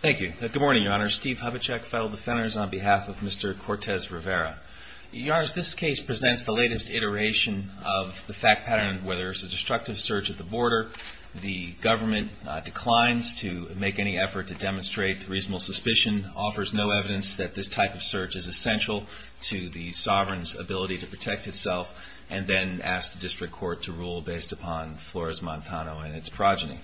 Thank you. Good morning, Your Honor. Steve Hubachek, Federal Defenders, on behalf of Mr. Cortez-Rivera. Your Honor, this case presents the latest iteration of the fact pattern of whether it's a destructive search at the border, the government declines to make any effort to demonstrate reasonable suspicion, offers no evidence that this type of search is essential to the sovereign's ability to protect itself, and then asks the District Court to rule based upon Flores-Montano and its progeny.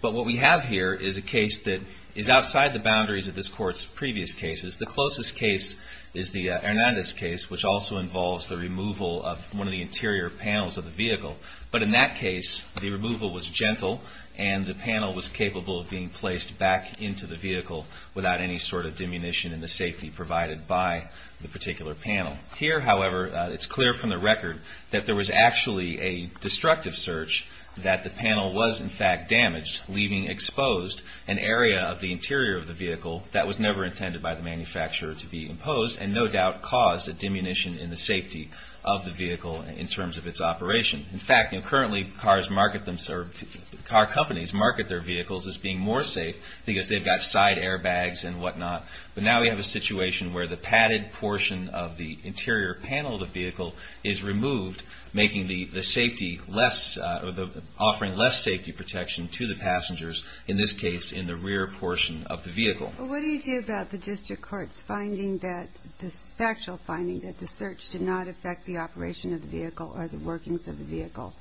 But what we have here is a case that is outside the boundaries of this Court's previous cases. The closest case is the Hernandez case, which also involves the removal of one of the interior panels of the vehicle. But in that case, the removal was gentle, and the panel was capable of being placed back into the vehicle without any sort of diminution in the safety provided by the particular panel. Here, however, it's clear from the record that there was actually a destructive search, that the panel was, in fact, damaged, leaving exposed an area of the interior of the vehicle that was never intended by the manufacturer to be imposed, and no doubt caused a diminution in the safety of the vehicle in terms of its operation. In fact, currently, car companies market their vehicles as being more safe because they've got side airbags and whatnot. But now we have a situation where the padded portion of the interior panel of the vehicle is removed, making the safety less – offering less safety protection to the passengers, in this case, in the rear portion of the vehicle. But what do you do about the district court's finding that – the factual finding that the search did not affect the operation of the vehicle or the workings of the vehicle?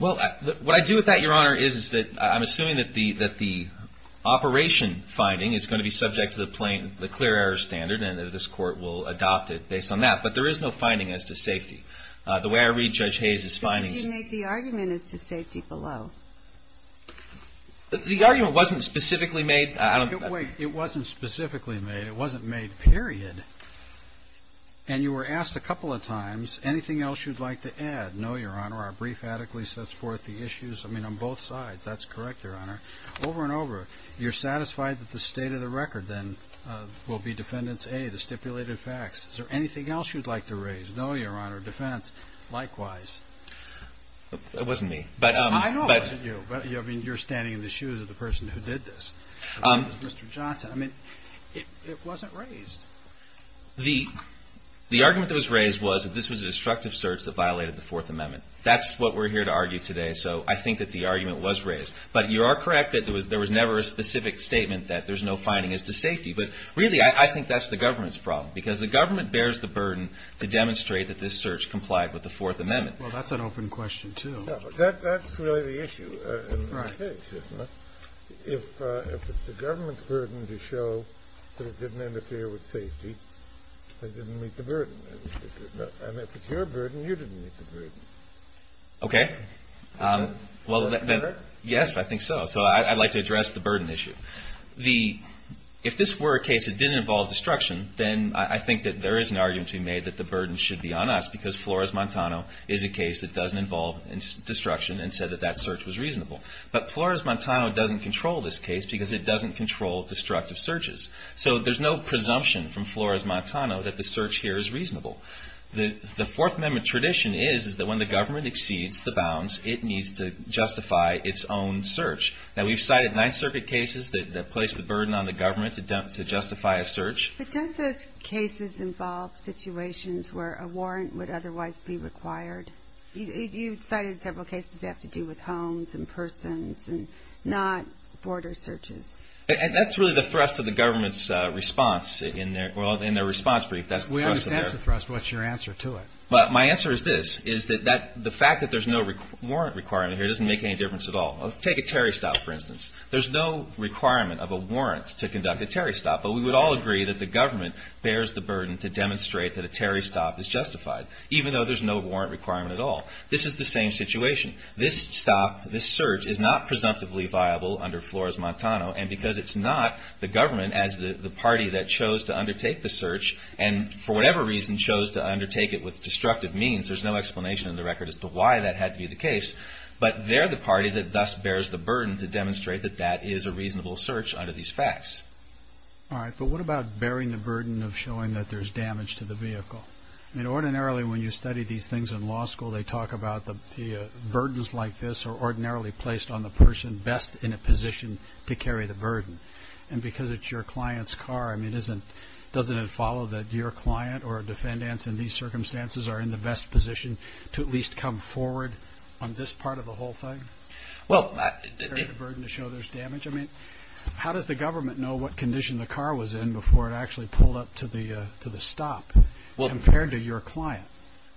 Well, what I do with that, Your Honor, is that I'm assuming that the operation finding is going to be subject to the plain – the clear error standard, and this Court will adopt it based on that. But there is no finding as to safety. The way I read Judge Hayes' findings – But did you make the argument as to safety below? The argument wasn't specifically made – Wait. It wasn't specifically made. It wasn't made, period. And you were asked a couple of times, anything else you'd like to add? No, Your Honor. Our brief adequately sets forth the issues. I mean, on both sides. That's correct, Your Honor. Over and over, you're satisfied that the state of the record, then, will be defendants A, the stipulated facts. Is there anything else you'd like to raise? No, Your Honor. Defense, likewise. It wasn't me. I know it wasn't you, but you're standing in the shoes of the person who did this. It was Mr. Johnson. I mean, it wasn't raised. The argument that was raised was that this was a destructive search that violated the Fourth Amendment. That's what we're here to argue today, so I think that the argument was raised. But you are correct that there was never a specific statement that there's no finding as to safety. But really, I think that's the government's problem. Because the government bears the burden to demonstrate that this search complied with the Fourth Amendment. Well, that's an open question, too. That's really the issue in this case, isn't it? If it's the government's burden to show that it didn't interfere with safety, they didn't meet the burden. And if it's your burden, you didn't meet the burden. Okay. Is that better? Yes, I think so. So I'd like to address the burden issue. If this were a case that didn't involve destruction, then I think that there is an argument to be made that the burden should be on us because Flores-Montano is a case that doesn't involve destruction and said that that search was reasonable. But Flores-Montano doesn't control this case because it doesn't control destructive searches. So there's no presumption from Flores-Montano that the search here is reasonable. The Fourth Amendment tradition is that when the government exceeds the bounds, it needs to justify its own search. Now, we've cited Ninth Circuit cases that place the burden on the government to justify a search. But don't those cases involve situations where a warrant would otherwise be required? You cited several cases that have to do with homes and persons and not border searches. That's really the thrust of the government's response in their response brief. We understand the thrust. What's your answer to it? My answer is this, is that the fact that there's no warrant requirement here doesn't make any difference at all. Take a Terry stop, for instance. There's no requirement of a warrant to conduct a Terry stop. But we would all agree that the government bears the burden to demonstrate that a Terry stop is justified, even though there's no warrant requirement at all. This is the same situation. This stop, this search, is not presumptively viable under Flores-Montano. And because it's not, the government, as the party that chose to undertake the search, and for whatever reason chose to undertake it with destructive means, there's no explanation in the record as to why that had to be the case. But they're the party that thus bears the burden to demonstrate that that is a reasonable search under these facts. All right. But what about bearing the burden of showing that there's damage to the vehicle? I mean, ordinarily, when you study these things in law school, they talk about the burdens like this are ordinarily placed on the person best in a position to carry the burden. And because it's your client's car, I mean, doesn't it follow that your client or a defendant in these circumstances are in the best position to at least come forward on this part of the whole thing? Well. To show there's damage. I mean, how does the government know what condition the car was in before it actually pulled up to the stop compared to your client?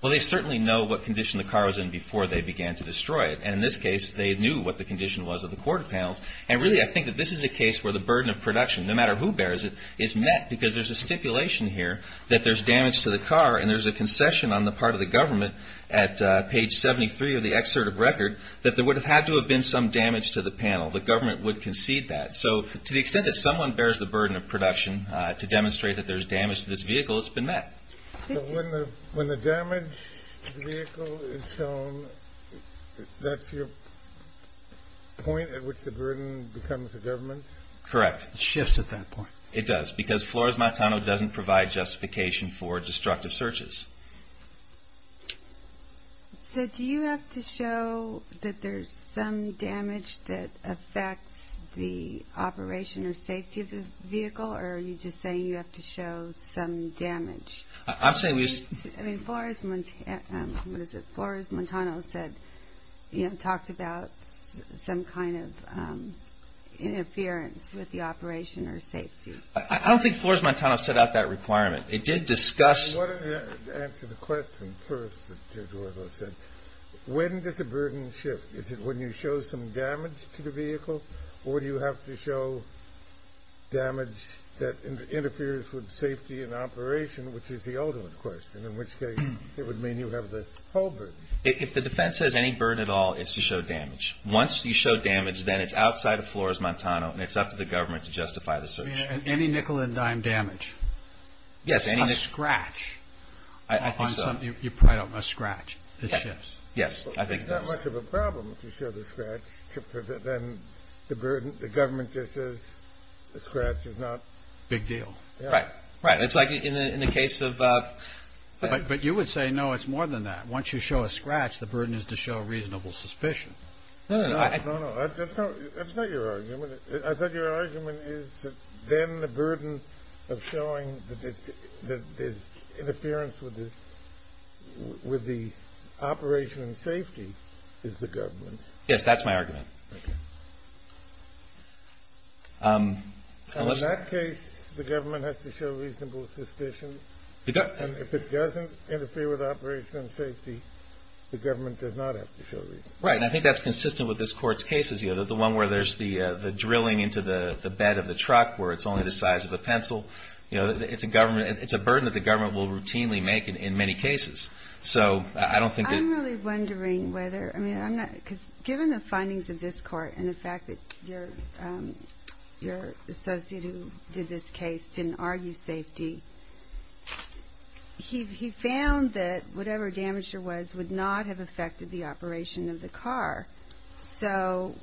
Well, they certainly know what condition the car was in before they began to destroy it. And in this case, they knew what the condition was of the quarter panels. And really, I think that this is a case where the burden of production, no matter who bears it, is met because there's a stipulation here that there's damage to the car and there's a concession on the part of the government at page 73 of the excerpt of record that there would have had to have been some damage to the panel. The government would concede that. So to the extent that someone bears the burden of production to demonstrate that there's damage to this vehicle, it's been met. So when the damage to the vehicle is shown, that's your point at which the burden becomes the government's? Correct. It shifts at that point. It does, because Flores-Montano doesn't provide justification for destructive searches. So do you have to show that there's some damage that affects the operation or safety of the vehicle, or are you just saying you have to show some damage? I'm saying we just... I mean, Flores-Montano said, you know, talked about some kind of interference with the operation or safety. I don't think Flores-Montano set out that requirement. It did discuss... I want to answer the question first that George said. When does the burden shift? Is it when you show some damage to the vehicle, or do you have to show damage that interferes with safety and operation, which is the ultimate question, in which case it would mean you have the whole burden. If the defense has any burden at all, it's to show damage. Once you show damage, then it's outside of Flores-Montano, and it's up to the government to justify the search. Any nickel and dime damage? Yes, any... A scratch. I think so. You probably don't want a scratch. It shifts. Yes, I think so. There's not much of a problem if you show the scratch. Then the government just says the scratch is not... Big deal. Right. Right. It's like in the case of... But you would say, no, it's more than that. Once you show a scratch, the burden is to show reasonable suspicion. No, no, no. No, no. That's not your argument. I thought your argument is that then the burden of showing that there's interference with the operation and safety is the government's. Yes, that's my argument. In that case, the government has to show reasonable suspicion. If it doesn't interfere with the operation and safety, the government does not have to show reason. Right, and I think that's consistent with this Court's cases, the one where there's the drilling into the bed of the truck where it's only the size of a pencil. It's a burden that the government will routinely make in many cases. So I don't think that... Given the findings of this Court and the fact that your associate who did this case didn't argue safety, he found that whatever damage there was would not have affected the operation of the car. So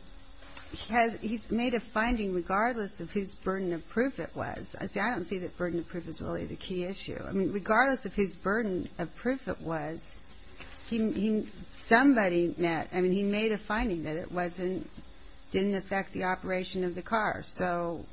he's made a finding regardless of whose burden of proof it was. See, I don't see that burden of proof is really the key issue. I mean, regardless of whose burden of proof it was, somebody made a finding that it didn't affect the operation of the car. So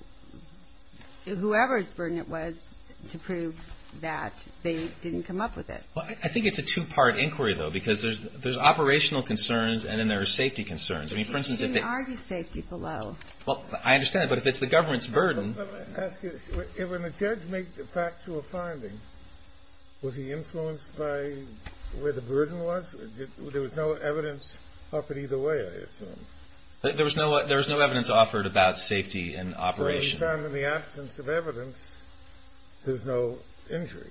whoever's burden it was to prove that, they didn't come up with it. I think it's a two-part inquiry, though, because there's operational concerns and then there are safety concerns. He didn't argue safety below. Well, I understand that, but if it's the government's burden... Let me ask you, when the judge made the factual finding, was he influenced by where the burden was? There was no evidence offered either way, I assume. There was no evidence offered about safety and operation. So he found in the absence of evidence, there's no injury.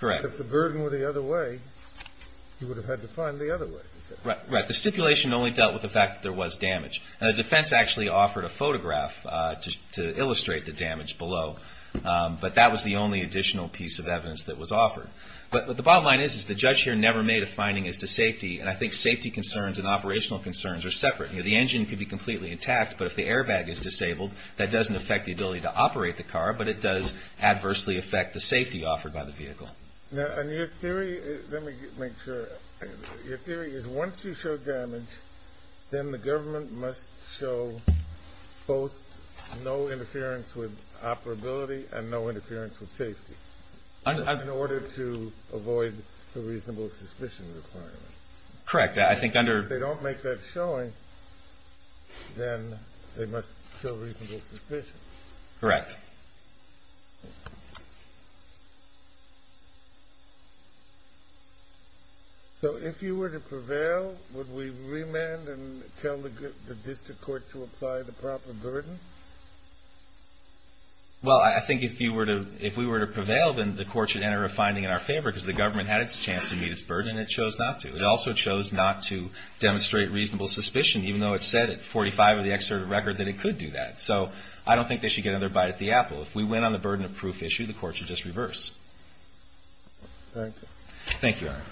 Correct. If the burden were the other way, he would have had to find the other way. Right. The stipulation only dealt with the fact that there was damage. And the defense actually offered a photograph to illustrate the damage below. But that was the only additional piece of evidence that was offered. But what the bottom line is, is the judge here never made a finding as to safety, and I think safety concerns and operational concerns are separate. The engine could be completely intact, but if the airbag is disabled, that doesn't affect the ability to operate the car, but it does adversely affect the safety offered by the vehicle. Now, in your theory, let me make sure. Your theory is once you show damage, then the government must show both no interference with operability and no interference with safety in order to avoid the reasonable suspicion requirement. Correct. I think under... If they don't make that showing, then they must show reasonable suspicion. Correct. So if you were to prevail, would we remand and tell the district court to apply the proper burden? Well, I think if we were to prevail, then the court should enter a finding in our favor because the government had its chance to meet its burden, and it chose not to. It also chose not to demonstrate reasonable suspicion, even though it said at 45 of the excerpt of the record that it could do that. So I don't think they should get another bite of the apple. If we went on the burden of proof issue, the court should just reverse. Thank you. Thank you, Your Honor.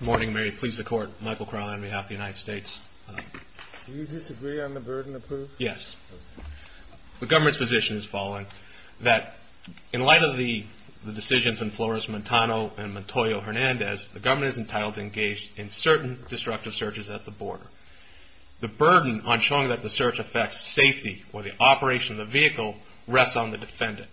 Good morning, Mary. Please support Michael Crowley on behalf of the United States. Do you disagree on the burden of proof? Yes. The government's position is following, that in light of the decisions in Flores-Montano and Montoyo-Hernandez, the government is entitled to engage in certain destructive searches at the border. The burden on showing that the search affects safety or the operation of the vehicle rests on the defendant.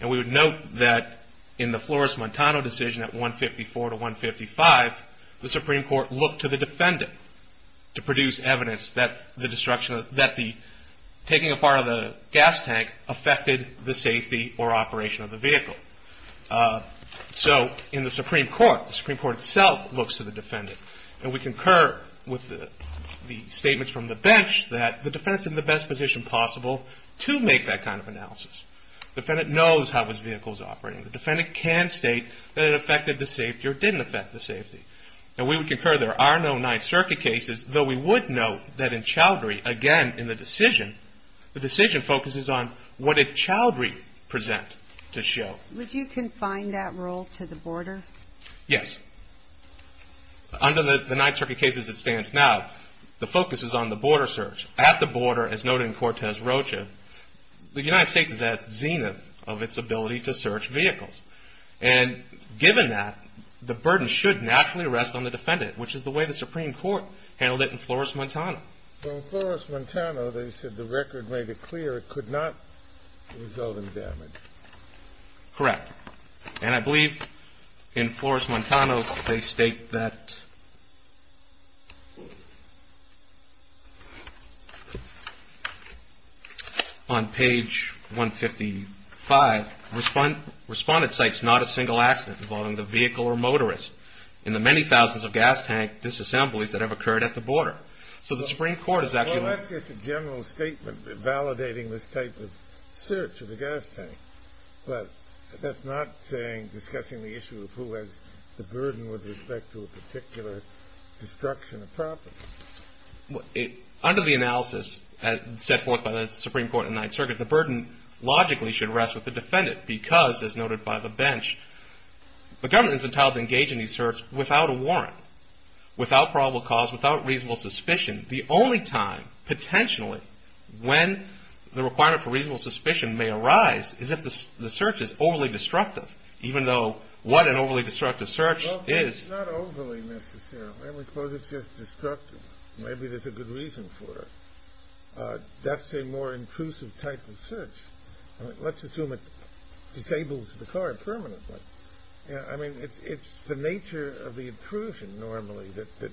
And we would note that in the Flores-Montano decision at 154 to 155, the Supreme Court looked to the defendant to produce evidence that taking a part of the gas tank affected the safety or operation of the vehicle. So in the Supreme Court, the Supreme Court itself looks to the defendant. And we concur with the statements from the bench that the defendant's in the best position possible to make that kind of analysis. The defendant knows how his vehicle's operating. The defendant can state that it affected the safety or didn't affect the safety. And we would concur there are no Ninth Circuit cases, though we would note that in Chaudhry, again, in the decision, the decision focuses on what did Chaudhry present to show. Would you confine that rule to the border? Yes. Under the Ninth Circuit cases it stands now, the focus is on the border search. At the border, as noted in Cortez-Rocha, the United States is at the zenith of its ability to search vehicles. And given that, the burden should naturally rest on the defendant, which is the way the Supreme Court handled it in Flores-Montano. In Flores-Montano, they said the record made it clear it could not result in damage. Correct. And I believe in Flores-Montano they state that on page 155, respondent cites not a single accident involving the vehicle or motorist in the many thousands of gas tank disassemblies that have occurred at the border. So the Supreme Court is actually – Well, that's just a general statement validating this type of search of a gas tank. But that's not saying discussing the issue of who has the burden with respect to a particular destruction of property. Under the analysis set forth by the Supreme Court in the Ninth Circuit, the burden logically should rest with the defendant because, as noted by the bench, the government is entitled to engage in these searches without a warrant, without probable cause, without reasonable suspicion. The only time, potentially, when the requirement for reasonable suspicion may arise is if the search is overly destructive, even though what an overly destructive search is. Well, it's not overly, necessarily. I would suppose it's just destructive. Maybe there's a good reason for it. That's a more intrusive type of search. Let's assume it disables the car permanently. I mean, it's the nature of the intrusion normally that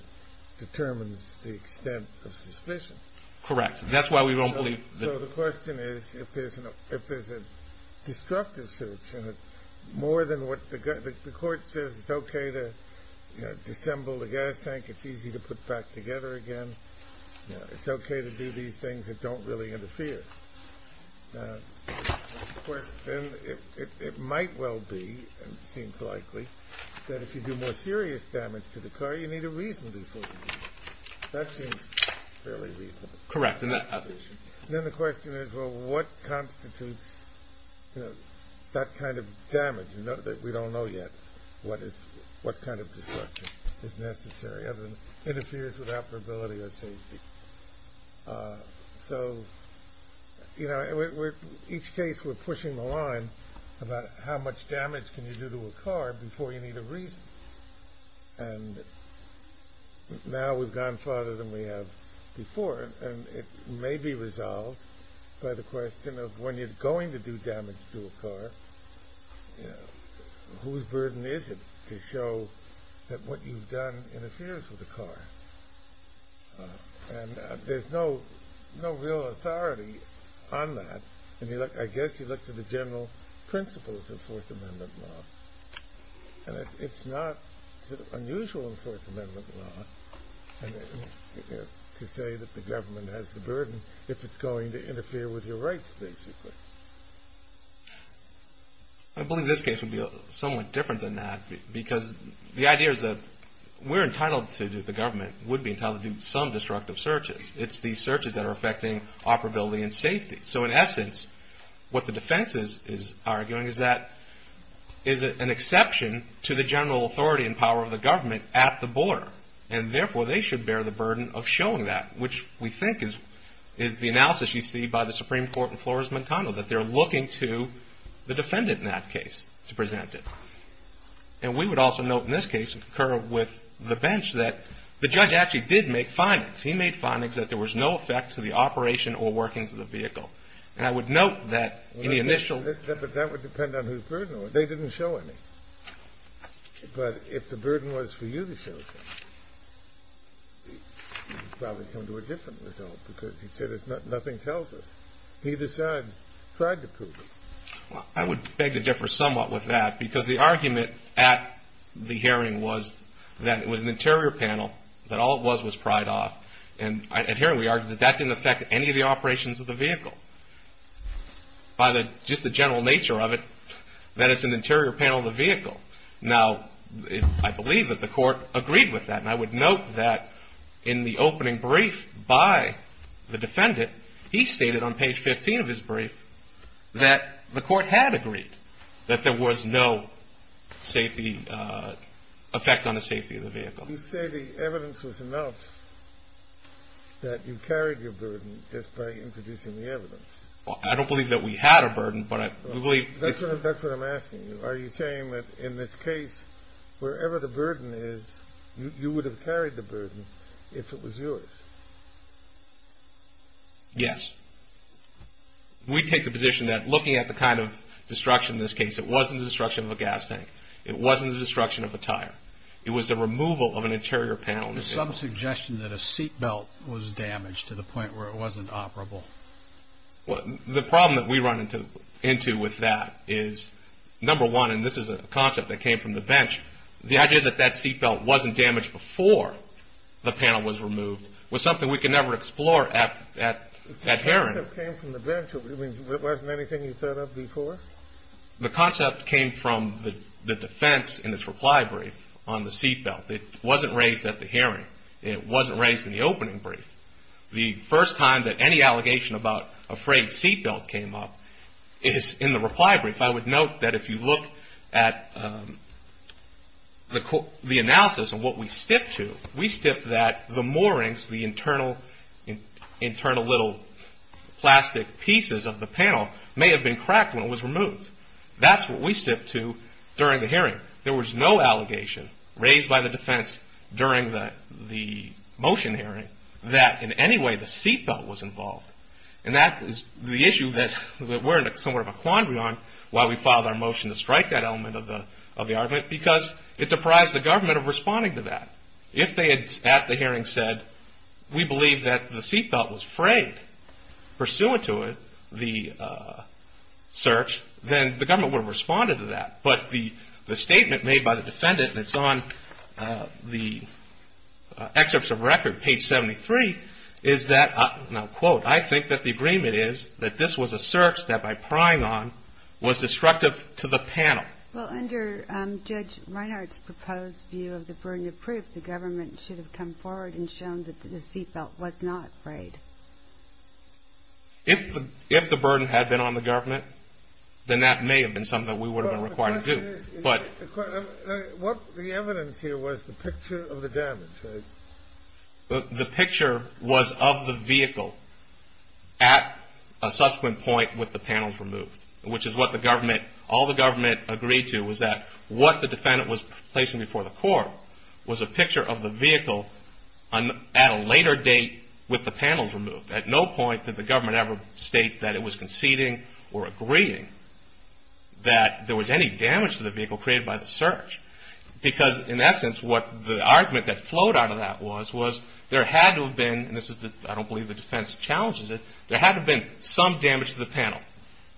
determines the extent of suspicion. Correct. That's why we don't believe that – So the question is, if there's a destructive search, more than what the court says it's okay to disassemble the gas tank, it's easy to put back together again, it's okay to do these things that don't really interfere. Of course, it might well be, and it seems likely, that if you do more serious damage to the car, you need a reason before you do it. That seems fairly reasonable. Correct, in that passage. Then the question is, well, what constitutes that kind of damage? We don't know yet what kind of destruction is necessary other than interferes with operability or safety. So, you know, in each case we're pushing the line about how much damage can you do to a car before you need a reason. And now we've gone farther than we have before, and it may be resolved by the question of when you're going to do damage to a car, whose burden is it to show that what you've done interferes with the car? And there's no real authority on that. I guess you look to the general principles of Fourth Amendment law, and it's not unusual in Fourth Amendment law to say that the government has the burden if it's going to interfere with your rights, basically. I believe this case would be somewhat different than that, because the idea is that we're entitled to do, the government would be entitled to do some destructive searches. It's these searches that are affecting operability and safety. So, in essence, what the defense is arguing is that is it an exception to the general authority and power of the government at the border, and therefore they should bear the burden of showing that, which we think is the analysis you see by the Supreme Court in Flores-McDonnell, that they're looking to the defendant in that case to present it. And we would also note in this case, and concur with the bench, that the judge actually did make findings. He made findings that there was no effect to the operation or workings of the vehicle. And I would note that in the initial... But that would depend on whose burden it was. They didn't show any. But if the burden was for you to show something, you'd probably come to a different result, because you'd say nothing tells us. Neither side tried to prove it. I would beg to differ somewhat with that, because the argument at the hearing was that it was an interior panel, that all it was was pried off. And at hearing, we argued that that didn't affect any of the operations of the vehicle. By just the general nature of it, that it's an interior panel of the vehicle. Now, I believe that the court agreed with that. And I would note that in the opening brief by the defendant, he stated on page 15 of his brief that the court had agreed that there was no safety... effect on the safety of the vehicle. You say the evidence was enough that you carried your burden just by introducing the evidence. I don't believe that we had a burden, but I believe... That's what I'm asking you. Are you saying that in this case, wherever the burden is, you would have carried the burden if it was yours? Yes. We take the position that looking at the kind of destruction in this case, it wasn't the destruction of a gas tank. It wasn't the destruction of a tire. It was the removal of an interior panel. There's some suggestion that a seat belt was damaged to the point where it wasn't operable. The problem that we run into with that is, number one, and this is a concept that came from the bench, the idea that that seat belt wasn't damaged before the panel was removed was something we could never explore at hearing. The concept came from the bench. It wasn't anything you thought of before? The concept came from the defense in its reply brief on the seat belt. It wasn't raised at the hearing. It wasn't raised in the opening brief. The first time that any allegation about a frayed seat belt came up is in the reply brief. I would note that if you look at the analysis and what we stipped to, we stipped that the moorings, the internal little plastic pieces of the panel, may have been cracked when it was removed. That's what we stipped to during the hearing. There was no allegation raised by the defense during the motion hearing that in any way the seat belt was involved. That is the issue that we're in somewhat of a quandary on why we filed our motion to strike that element of the argument because it deprives the government of responding to that. If they had at the hearing said, we believe that the seat belt was frayed pursuant to the search, then the government would have responded to that. But the statement made by the defendant that's on the excerpts of record, page 73, is that, quote, I think that the agreement is that this was a search that by prying on was destructive to the panel. Well, under Judge Reinhardt's proposed view of the burden of proof, the government should have come forward and shown that the seat belt was not frayed. If the burden had been on the government, then that may have been something that we would have been required to do. But the evidence here was the picture of the damage, right? The picture was of the vehicle at a subsequent point with the panels removed, which is what all the government agreed to, was that what the defendant was placing before the court was a picture of the vehicle at a later date with the panels removed. At no point did the government ever state that it was conceding or agreeing that there was any damage to the vehicle created by the search. Because, in essence, what the argument that flowed out of that was, was there had to have been, and I don't believe the defense challenges it, there had to have been some damage to the panel.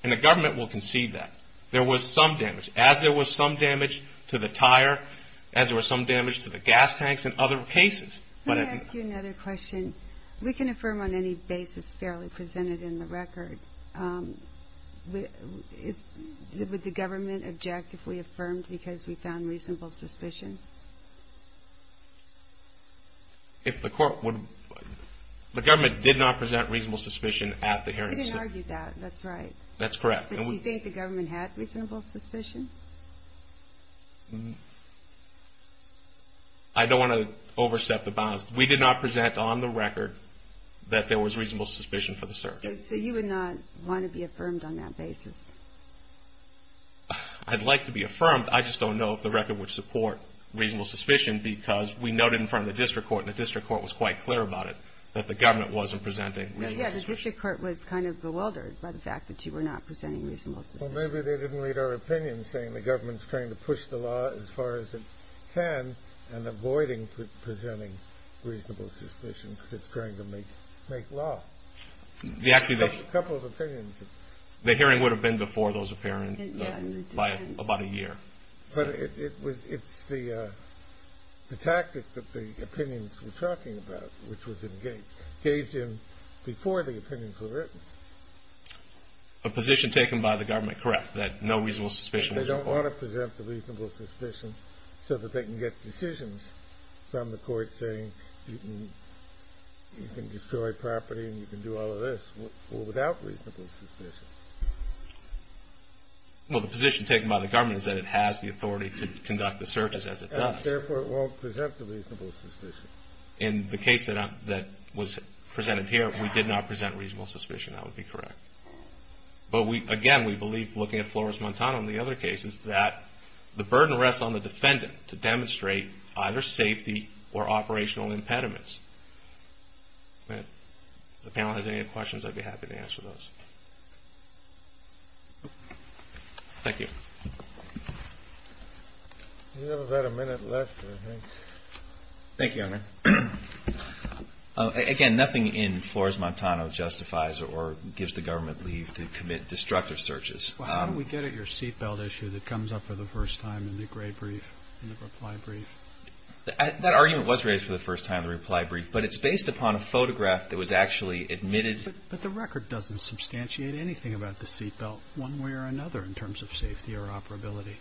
And the government will concede that. There was some damage. As there was some damage to the tire, as there was some damage to the gas tanks and other cases. Let me ask you another question. We can affirm on any basis fairly presented in the record. Would the government object if we affirmed because we found reasonable suspicion? The government did not present reasonable suspicion at the hearing. We didn't argue that. That's right. That's correct. But do you think the government had reasonable suspicion? I don't want to overstep the bounds. We did not present on the record that there was reasonable suspicion for the search. So you would not want to be affirmed on that basis? I'd like to be affirmed. I just don't know if the record would support reasonable suspicion because we noted in front of the district court, and the district court was quite clear about it, that the government wasn't presenting reasonable suspicion. Yeah, the district court was kind of bewildered by the fact that you were not presenting reasonable suspicion. Well, maybe they didn't read our opinion, saying the government's trying to push the law as far as it can and avoiding presenting reasonable suspicion because it's trying to make law. A couple of opinions. The hearing would have been before those opinions by about a year. But it's the tactic that the opinions were talking about, which was engaged in before the opinions were written. A position taken by the government, correct, that no reasonable suspicion was required. They don't want to present the reasonable suspicion so that they can get decisions from the court saying you can destroy property and you can do all of this without reasonable suspicion. Well, the position taken by the government is that it has the authority to conduct the searches as it does. Therefore, it won't present the reasonable suspicion. In the case that was presented here, we did not present reasonable suspicion. That would be correct. But again, we believe, looking at Flores-Montano and the other cases, that the burden rests on the defendant to demonstrate either safety or operational impediments. If the panel has any other questions, I'd be happy to answer those. Thank you. We have about a minute left, I think. Thank you, Your Honor. Again, nothing in Flores-Montano justifies or gives the government leave to commit destructive searches. Well, how do we get at your seatbelt issue that comes up for the first time in the gray brief, in the reply brief? That argument was raised for the first time in the reply brief, but it's based upon a photograph that was actually admitted. But the record doesn't substantiate anything about the seatbelt, one way or another, in terms of safety or operability.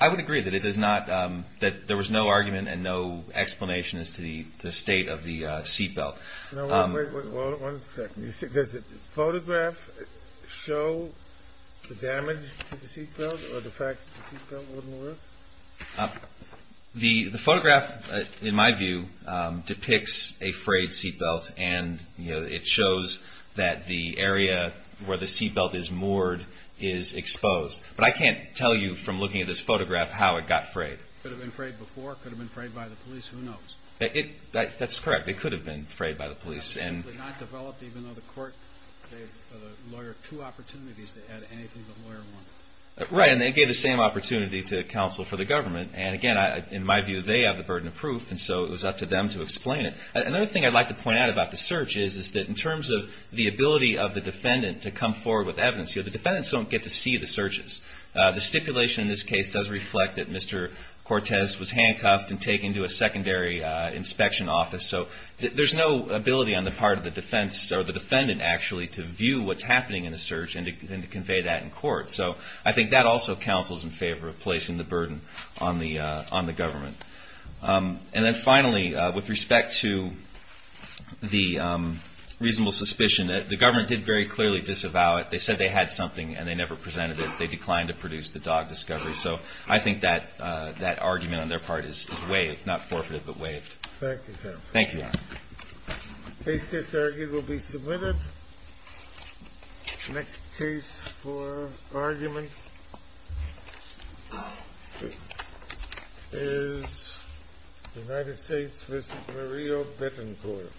I would agree that there was no argument and no explanation as to the state of the seatbelt. One second. Does the photograph show the damage to the seatbelt or the fact that the seatbelt wouldn't work? The photograph, in my view, depicts a frayed seatbelt, and it shows that the area where the seatbelt is moored is exposed. But I can't tell you from looking at this photograph how it got frayed. Could it have been frayed before? Could it have been frayed by the police? Who knows? That's correct. It could have been frayed by the police. Absolutely not developed, even though the court gave the lawyer two opportunities to add anything the lawyer wanted. Right, and they gave the same opportunity to counsel for the government. And again, in my view, they have the burden of proof, and so it was up to them to explain it. Another thing I'd like to point out about the search is that in terms of the ability of the defendant to come forward with evidence, the defendants don't get to see the searches. The stipulation in this case does reflect that Mr. Cortez was handcuffed and taken to a secondary inspection office. So there's no ability on the part of the defendant, actually, to view what's happening in the search and to convey that in court. So I think that also counsels in favor of placing the burden on the government. And then finally, with respect to the reasonable suspicion, the government did very clearly disavow it. They said they had something, and they never presented it. They declined to produce the dog discovery. So I think that argument on their part is waived, not forfeited, but waived. Thank you, counsel. Thank you, Your Honor. Case case argument will be submitted. Next case for argument is United States v. Murillo Betancourt. Thank you.